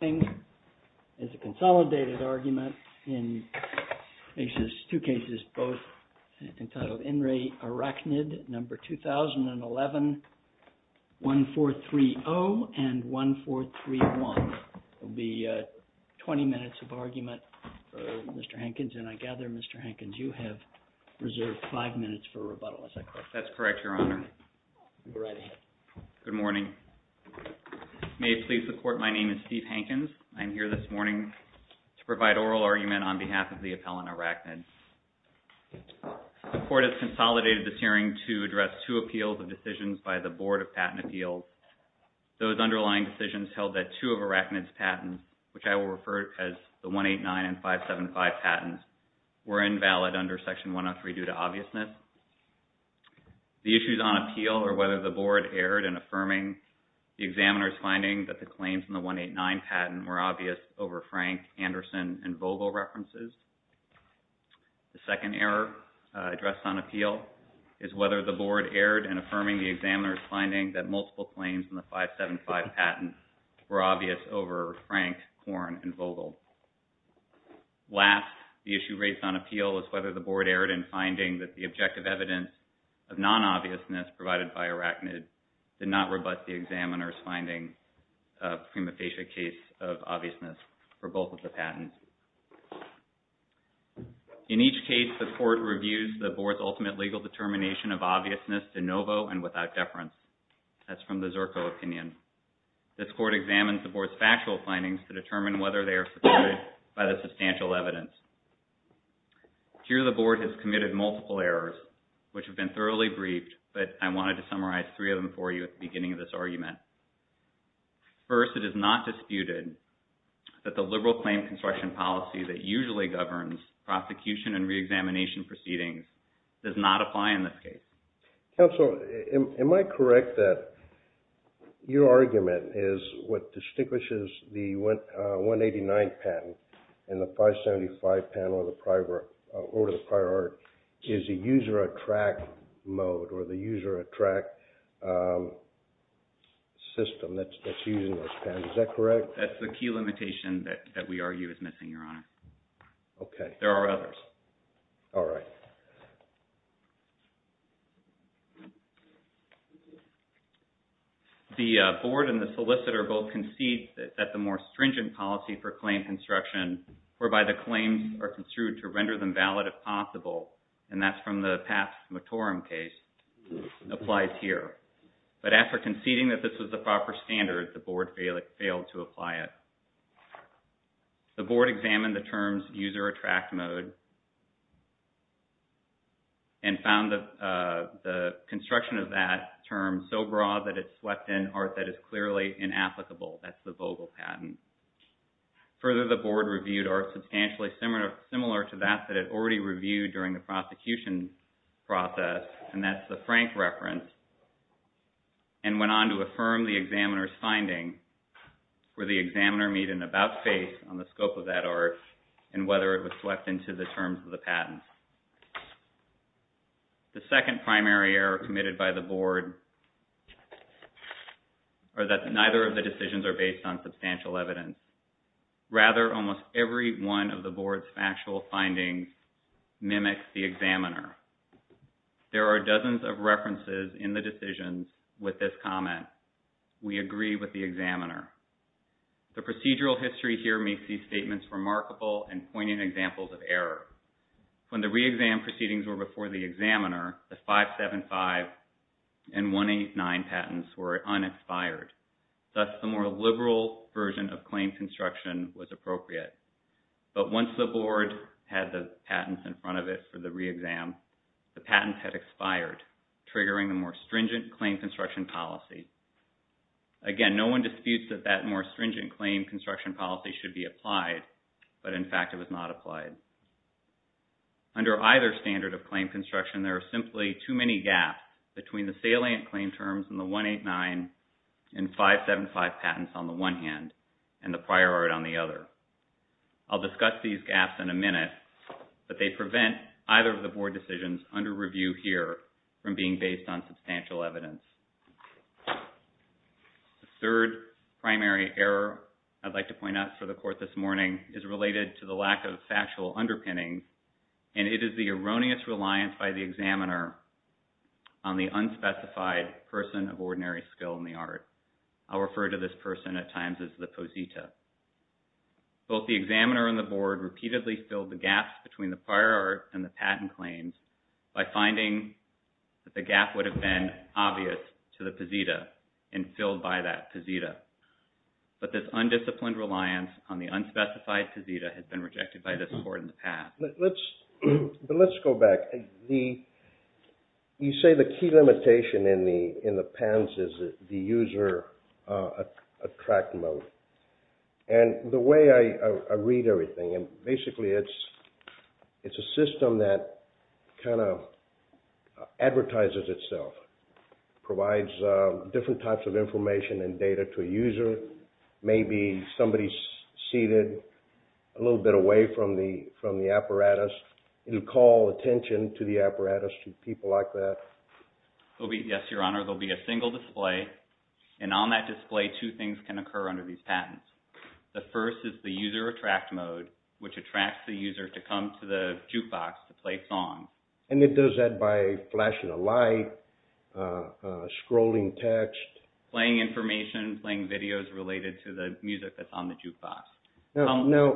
is a consolidated argument in two cases, both entitled IN RE ARACHNID, number 2011-1430 and 1431. It will be 20 minutes of argument for Mr. Hankins, and I gather, Mr. Hankins, you have reserved five minutes for rebuttal, is that correct? That's correct, Your Honor. Go right ahead. Good morning. May it please the Court, my name is Steve Hankins. I'm here this morning to provide oral argument on behalf of the appellant, ARACHNID. The Court has consolidated this hearing to address two appeals and decisions by the Board of Patent Appeals. Those underlying decisions held that two of ARACHNID's patents, which I will refer to as the 189 and 575 patents, were invalid under Section 103 due to obviousness. The issues on appeal, or whether the Board erred in affirming the examiner's finding that the claims in the 189 patent were obvious over Frank, Anderson, and Vogel references. The second error addressed on appeal is whether the Board erred in affirming the examiner's finding that multiple claims in the 575 patent were obvious over Frank, Horn, and Vogel. Last, the issue raised on appeal is whether the Board erred in finding that the objective evidence of non-obviousness provided by ARACHNID did not rebut the examiner's finding of prima facie case of obviousness for both of the patents. In each case, the Court reviews the Board's ultimate legal determination of obviousness de novo and without deference. That's from the Zerko opinion. This Court examines the Board's factual findings to determine whether they are supported by the substantial evidence. Here, the Board has committed multiple errors, which have been thoroughly briefed, but I wanted to summarize three of them for you at the beginning of this argument. First, it is not disputed that the liberal claim construction policy that usually governs prosecution and reexamination proceedings does not apply in this case. Counsel, am I correct that your argument is what distinguishes the 189 patent and the 575 patent over the prior art is the user attract mode or the user attract system that's using those patents, is that correct? That's the key limitation that we argue is missing, Your Honor. Okay. There are others. All right. The Board and the solicitor both concede that the more stringent policy for claim construction, whereby the claims are construed to render them valid if possible, and that's from the past Matorum case, applies here. But after conceding that this was the proper standard, the Board failed to apply it. The Board examined the terms user attract mode and found the construction of that term so broad that it swept in art that is clearly inapplicable. That's the Vogel patent. Further, the Board reviewed art substantially similar to that that it already reviewed during the prosecution process, and that's the Frank reference, and went on to affirm the examiner's finding where the examiner made an about-face on the scope of that art and whether it was swept into the terms of the patent. The second primary error committed by the Board are that neither of the decisions are based on substantial evidence. Rather, almost every one of the Board's factual findings mimics the examiner. There are dozens of references in the decisions with this comment. We agree with the examiner. The procedural history here makes these statements remarkable and poignant examples of error. When the re-exam proceedings were before the examiner, the 575 and 189 patents were unexpired. Thus, the more liberal version of claim construction was appropriate. But once the Board had the patents in front of it for the re-exam, the patents had expired, triggering the more stringent claim construction policy. Again, no one disputes that that more stringent claim construction policy should be applied, but in fact, it was not applied. Under either standard of claim construction, there are simply too many gaps between the salient claim terms in the 189 and 575 patents on the one hand and the prior art on the other. I'll discuss these gaps in a minute, but they prevent either of the Board decisions under review here from being based on substantial evidence. The third primary error I'd like to point out for the Court this morning is related to the lack of factual underpinning, and it is the erroneous reliance by the examiner on the unspecified person of ordinary skill in the art. I'll refer to this person at times as the posita. Both the examiner and the Board repeatedly filled the gaps between the prior art and the patent claims by finding that the gap would have been obvious to the posita and filled by that posita. But this undisciplined reliance on the unspecified posita has been rejected by this Court in the past. Let's go back. You say the key limitation in the patents is the user attract mode. And the way I read everything, basically it's a system that kind of advertises itself, provides different types of information and data to a user. Maybe somebody's seated a little bit away from the apparatus. It'll call attention to the apparatus to people like that. Yes, Your Honor, there'll be a single display. And on that display, two things can occur under these patents. The first is the user attract mode, which attracts the user to come to the jukebox to play a song. And it does that by flashing a light, scrolling text. Playing information, playing videos related to the music that's on the jukebox. Now,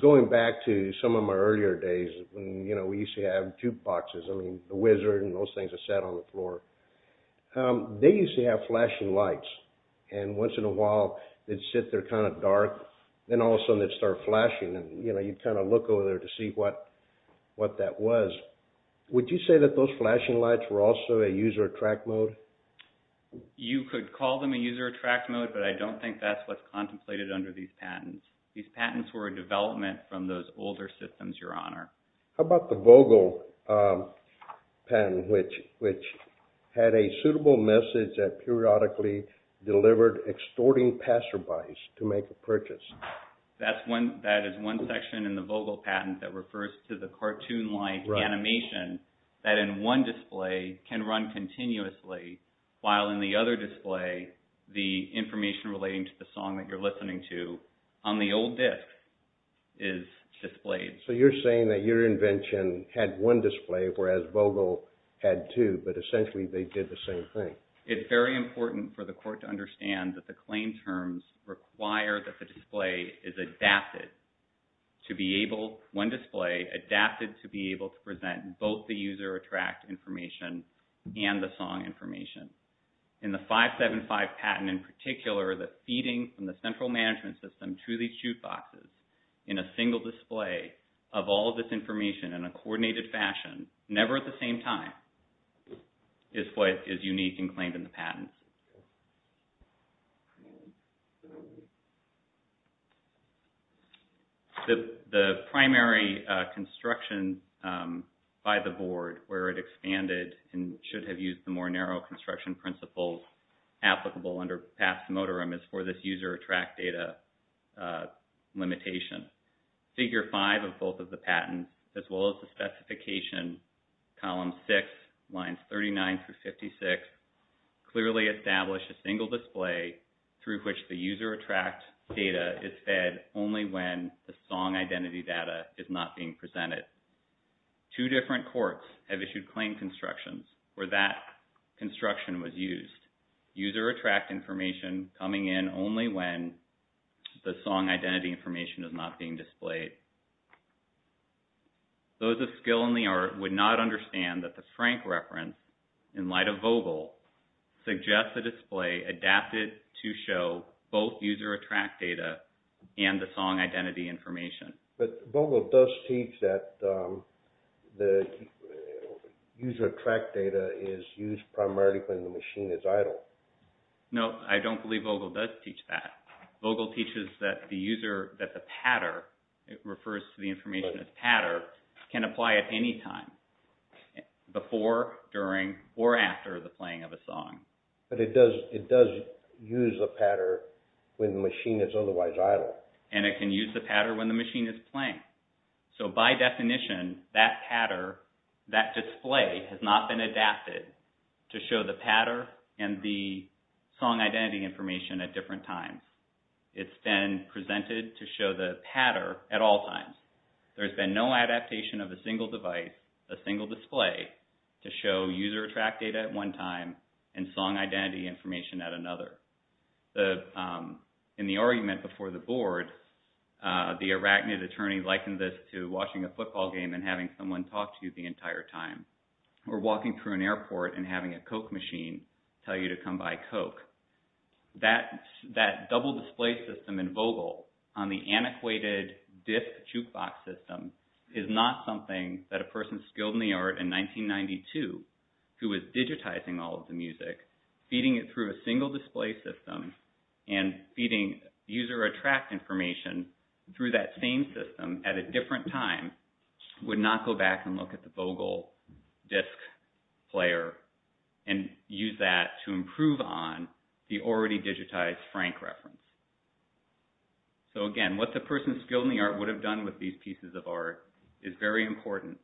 going back to some of my earlier days, when we used to have jukeboxes. I mean, The Wizard and those things that sat on the floor. They used to have flashing lights. And once in a while, they'd sit there kind of dark. Then all of a sudden, they'd start flashing. And you'd kind of look over there to see what that was. Would you say that those flashing lights were also a user attract mode? You could call them a user attract mode, but I don't think that's what's contemplated under these patents. These patents were a development from those older systems, Your Honor. How about the Vogel patent, which had a suitable message that periodically delivered extorting passerbys to make a purchase? That is one section in the Vogel patent that refers to the cartoon-like animation that in one display can run continuously, while in the other display, the information relating to the user on the old disc is displayed. So you're saying that your invention had one display, whereas Vogel had two, but essentially they did the same thing. It's very important for the court to understand that the claim terms require that the display is adapted to be able, one display adapted to be able to present both the user attract information and the song information. In the 575 patent in particular, the feeding from the execute boxes in a single display of all of this information in a coordinated fashion, never at the same time, is what is unique and claimed in the patents. The primary construction by the board, where it expanded and should have used the more narrow construction principles applicable under past modorum is for this user attract data limitation. Figure 5 of both of the patents, as well as the specification, column 6, lines 39 through 56, clearly establish a single display through which the user attract data is fed only when the song identity data is not being presented. Two different courts have issued claim constructions where that construction was used. User attract information coming in only when the song identity information is not being displayed. Those of skill in the art would not understand that the Frank reference in light of Vogel suggests a display adapted to show both user attract data and the song identity information. But Vogel does teach that the user attract data is used primarily when the machine is idle. No, I don't believe Vogel does teach that. Vogel teaches that the user, that the patter, it refers to the information as patter, can apply at any time. Before, during, or after the playing of a song. But it does use a patter when the machine is otherwise idle. And it can use the patter when the machine is playing. So, by definition, that patter, that display, has not been adapted to show the patter and the song identity information at different times. It's been presented to show the patter at all times. There's been no adaptation of a single device, a single display, to show user attract data at one time and song identity information at another. In the argument before the board, the arachnid attorney likened this to watching a football game and having someone talk to you the entire time. Or walking through an airport and having a Coke machine tell you to come buy Coke. That double display system in Vogel on the antiquated disc jukebox system is not something that a person skilled in the art in 1992, who was digitizing all of the music, feeding it through a single display system and feeding user attract information through that same system at a different time, would not go back and look at the Vogel disc player and use that to improve on the already digitized Frank reference. So, again, what the person skilled in the art would have done with these pieces of art is very important.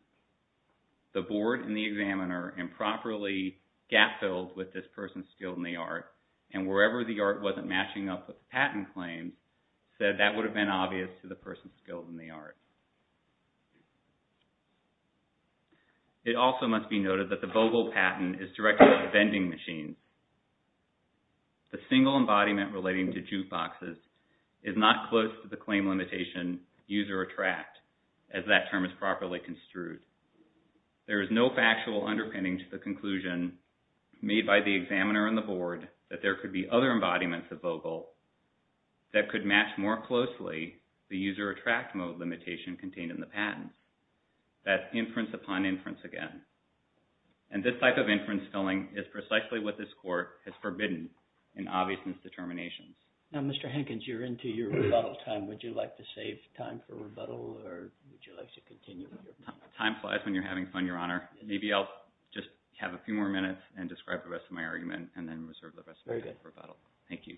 The board and the examiner improperly gap filled with this person skilled in the art and wherever the art wasn't matching up with the patent claims said that would have been obvious to the person skilled in the art. It also must be noted that the Vogel patent is directed at the vending machine. The single embodiment relating to jukeboxes is not close to the claim limitation user attract as that term is properly construed. There is no factual underpinning to the conclusion made by the examiner and the board that there could be other embodiments of Vogel that could match more closely the user attract mode limitation contained in the patent. That's inference upon inference again. And this type of inference filling is precisely what this court has forbidden in obviousness determinations. Now, Mr. Hankins, you're into your rebuttal time. Would you like to save time for rebuttal or would you like to continue? Time flies when you're having fun, Your Honor. Maybe I'll just have a few more minutes and describe the rest of my argument and then reserve the rest of my time for rebuttal. Thank you.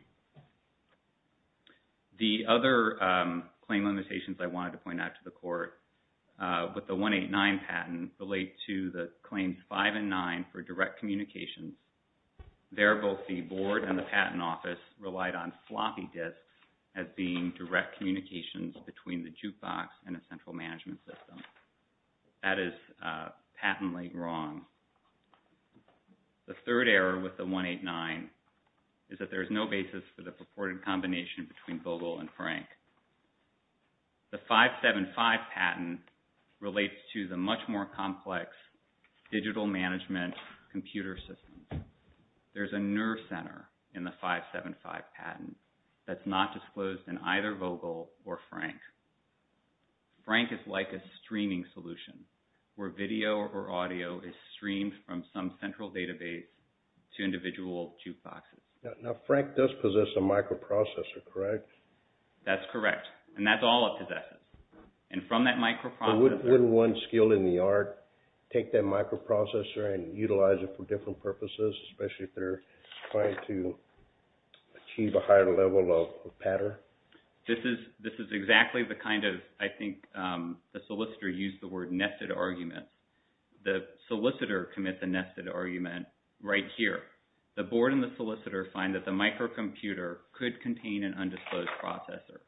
The other claim limitations I wanted to point out to the court with the 189 patent relate to the claims 5 and 9 for direct communications. There, both the board and the patent office relied on floppy disks as being direct communications between the jukebox and a central management system. That is patently wrong. The third error with the 189 is that there is no basis for the purported combination between Vogel and Frank. The 575 patent relates to the much more complex digital management computer system. There's a nerve center in the 575 patent that's not disclosed in either Vogel or Frank. Frank is like a streaming solution where video or audio is streamed from some central database to individual jukeboxes. Now, Frank does possess a microprocessor, correct? That's correct. And that's all it possesses. And from that microprocessor... But wouldn't one skilled in the art take that microprocessor and utilize it for different purposes, especially if they're trying to achieve a higher level of pattern? This is exactly the kind of, I think the solicitor used the word nested argument. The solicitor commits a nested argument right here. The board and the solicitor find that the microcomputer could contain an undisclosed processor.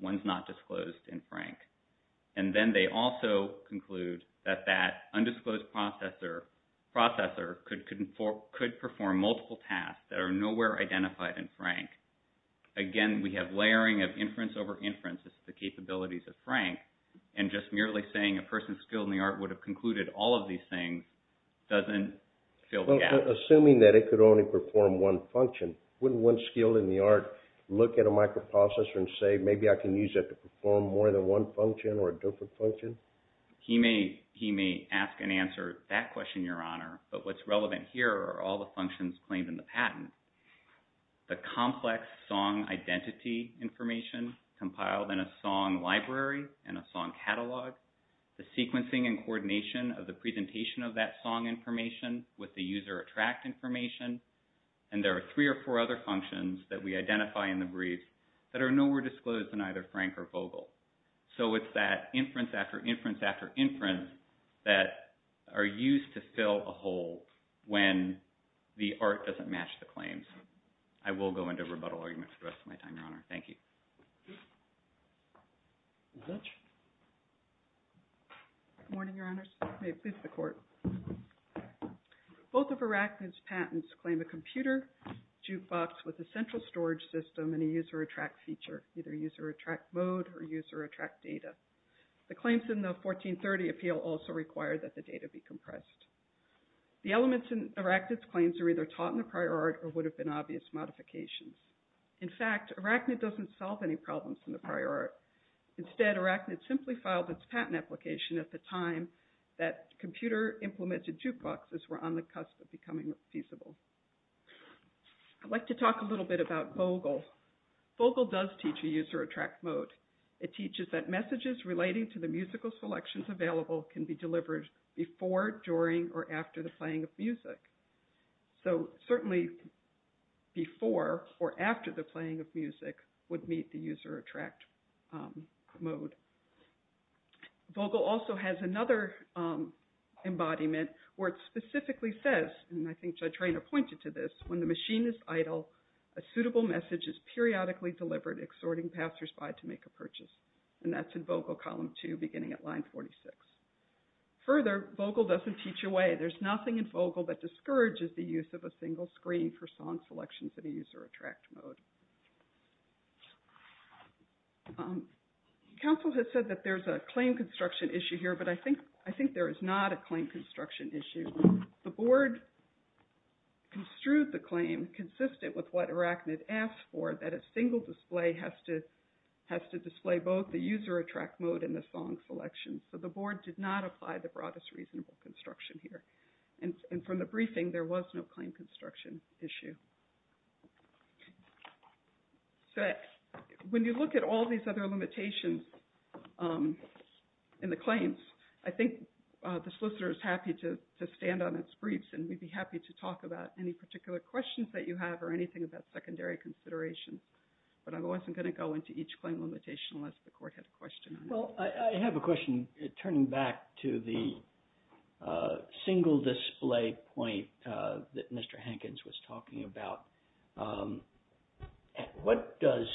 One's not disclosed in Frank. And then they also conclude that that undisclosed processor could perform multiple tasks that are nowhere identified in Frank. Again, we have layering of inference over inference. It's the capabilities of Frank. And just merely saying a person skilled in the art would have concluded all of these things doesn't fill the gap. Assuming that it could only perform one function, wouldn't one skilled in the art look at a microprocessor and say, maybe I can use it to perform more than one function or a different function? He may ask and answer that question, Your Honor. But what's relevant here are all the functions claimed in the patent. The complex song identity information compiled in a song library and a song catalog, the contract information, and there are three or four other functions that we identify in the brief that are nowhere disclosed in either Frank or Vogel. So it's that inference after inference after inference that are used to fill a hole when the art doesn't match the claims. I will go into rebuttal arguments for the rest of my time, Your Honor. Thank you. Judge? Good morning, Your Honors. May it please the Court. Both of Arachnid's patents claim a computer jukebox with a central storage system and a user attract feature, either user attract mode or user attract data. The claims in the 1430 appeal also require that the data be compressed. The elements in Arachnid's claims are either taught in the prior art or would have been obvious modifications. In fact, Arachnid doesn't solve any problems in the prior art. Instead, Arachnid simply filed its patent application at the time that computer implemented jukeboxes were on the cusp of becoming feasible. I'd like to talk a little bit about Vogel. Vogel does teach a user attract mode. It teaches that messages relating to the musical selections available can be delivered before, during, or after the playing of music. So certainly before or after the playing of music would meet the user attract mode. Vogel also has another embodiment where it specifically says, and I think Judge Rayner pointed to this, when the machine is idle, a suitable message is periodically delivered exhorting passersby to make a purchase. And that's in Vogel column two beginning at line 46. Further, Vogel doesn't teach away. There's nothing in Vogel that discourages the use of a single screen for song selections in a user attract mode. Council has said that there's a claim construction issue here, but I think there is not a claim construction issue. The board construed the claim consistent with what Arachnid asked for, that a single display has to display both the user attract mode and the song selection. So the board did not apply the broadest reasonable construction here. And from the briefing, there was no claim construction issue. When you look at all these other limitations in the claims, I think the solicitor is happy to stand on its briefs and we'd be happy to talk about any particular questions that you have or anything about secondary considerations. But I wasn't going to go into each claim limitation unless the court had a question on it. Well, I have a question. Turning back to the single display point that Mr. Hankins was talking about, what does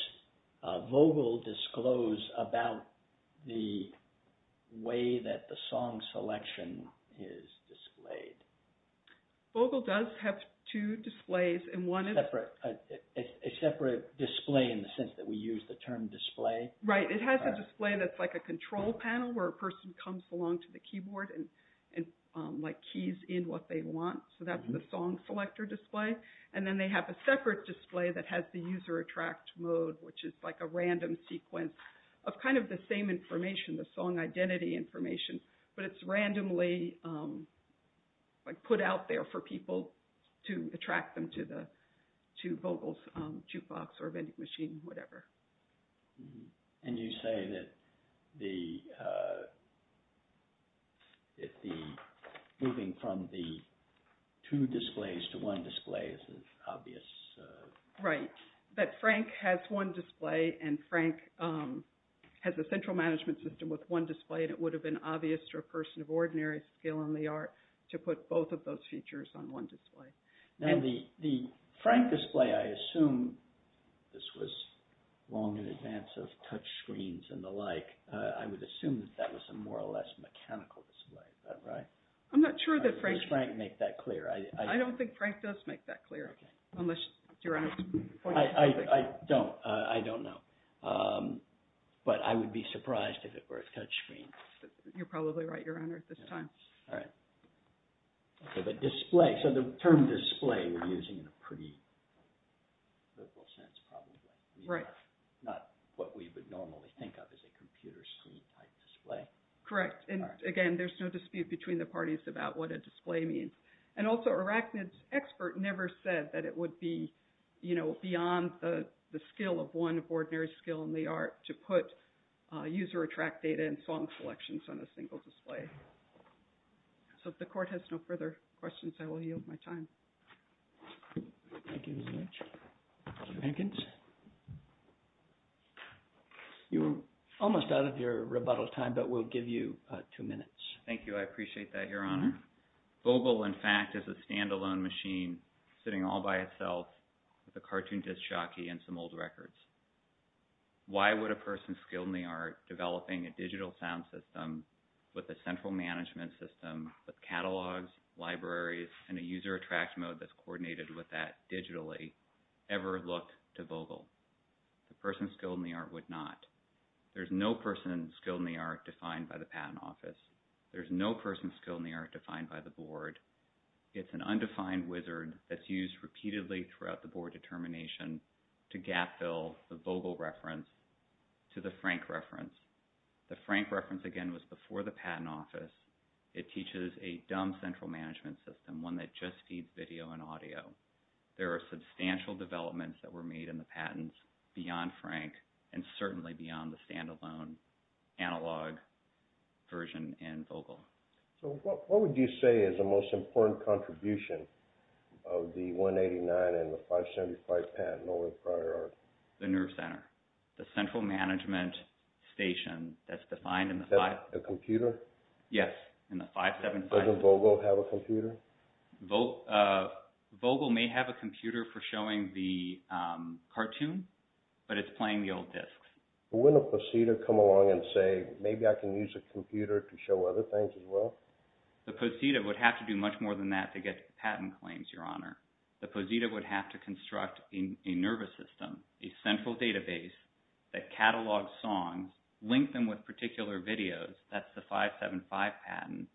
Vogel disclose about the way that the song selection is displayed? Vogel does have two displays and one is... A separate display in the sense that we use the term display? Right. It has a display that's like a control panel where a person comes along to the keyboard and keys in what they want. So that's the song selector display. And then they have a separate display that has the user attract mode, which is like a random sequence of kind of the same information, the song identity information. But it's randomly put out there for people to attract them to Vogel's jukebox or vending machine, whatever. And you say that moving from the two displays to one display is obvious? Right. That Frank has one display and Frank has a central management system with one display and it would have been obvious to a person of ordinary skill in the art to put both of those features on one display. Now the Frank display, I assume this was long in advance of touch screens and the like. I would assume that that was a more or less mechanical display. Is that right? I'm not sure that Frank... Does Frank make that clear? I don't think Frank does make that clear. Okay. Unless you're on... I don't. I don't know. But I would be surprised if it were a touch screen. You're probably right, Your Honor, at this time. All right. Okay, but display. So the term display we're using in a pretty liberal sense probably. Right. Not what we would normally think of as a computer screen type display. Correct. And again, there's no dispute between the parties about what a display means. And also, Arachnid's expert never said that it would be, you know, beyond the skill of one of ordinary skill in the art to put user attract data and song selections on a single display. So if the court has no further questions, I will yield my time. Thank you very much. Mr. Hankins? You're almost out of your rebuttal time, but we'll give you two minutes. Thank you. I appreciate that, Your Honor. Vogel, in fact, is a standalone machine sitting all by itself with a cartoon disc jockey and some old records. Why would a person skilled in the art developing a digital sound system with a central management system with catalogs, libraries, and a user attract mode that's coordinated with that digitally ever look to Vogel? The person skilled in the art would not. There's no person skilled in the art defined by the patent office. There's no person skilled in the art defined by the board. It's an undefined wizard that's used repeatedly throughout the board determination to gap fill the Vogel reference to the Frank reference. The Frank reference, again, was before the patent office. It teaches a dumb central management system, one that just feeds video and audio. There are substantial developments that were made in the patents beyond Frank and certainly beyond the standalone analog version in Vogel. So what would you say is the most important contribution of the 189 and the 575 patent over the prior art? The nerve center. The central management station that's defined in the 575. The computer? Yes, in the 575. Doesn't Vogel have a computer? Vogel may have a computer for showing the cartoon, but it's playing the old discs. Wouldn't a posita come along and say, maybe I can use a computer to show other things as well? The posita would have to do much more than that to get patent claims, your honor. The posita would have to construct a nervous system, a central database that catalogs songs, link them with particular videos, that's the 575 patent,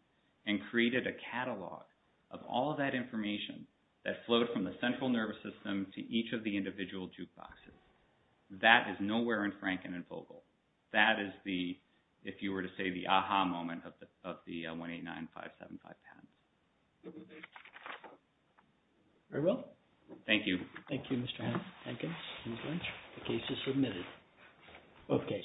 and created a catalog of all that information that flowed from the central nervous system to each of the individual jukeboxes. That is nowhere in Frank and in Vogel. That is the, if you were to say the aha moment of the 189, 575 patent. Thank you. Very well. Thank you. Thank you, Mr. Hankins. The case is submitted. Okay.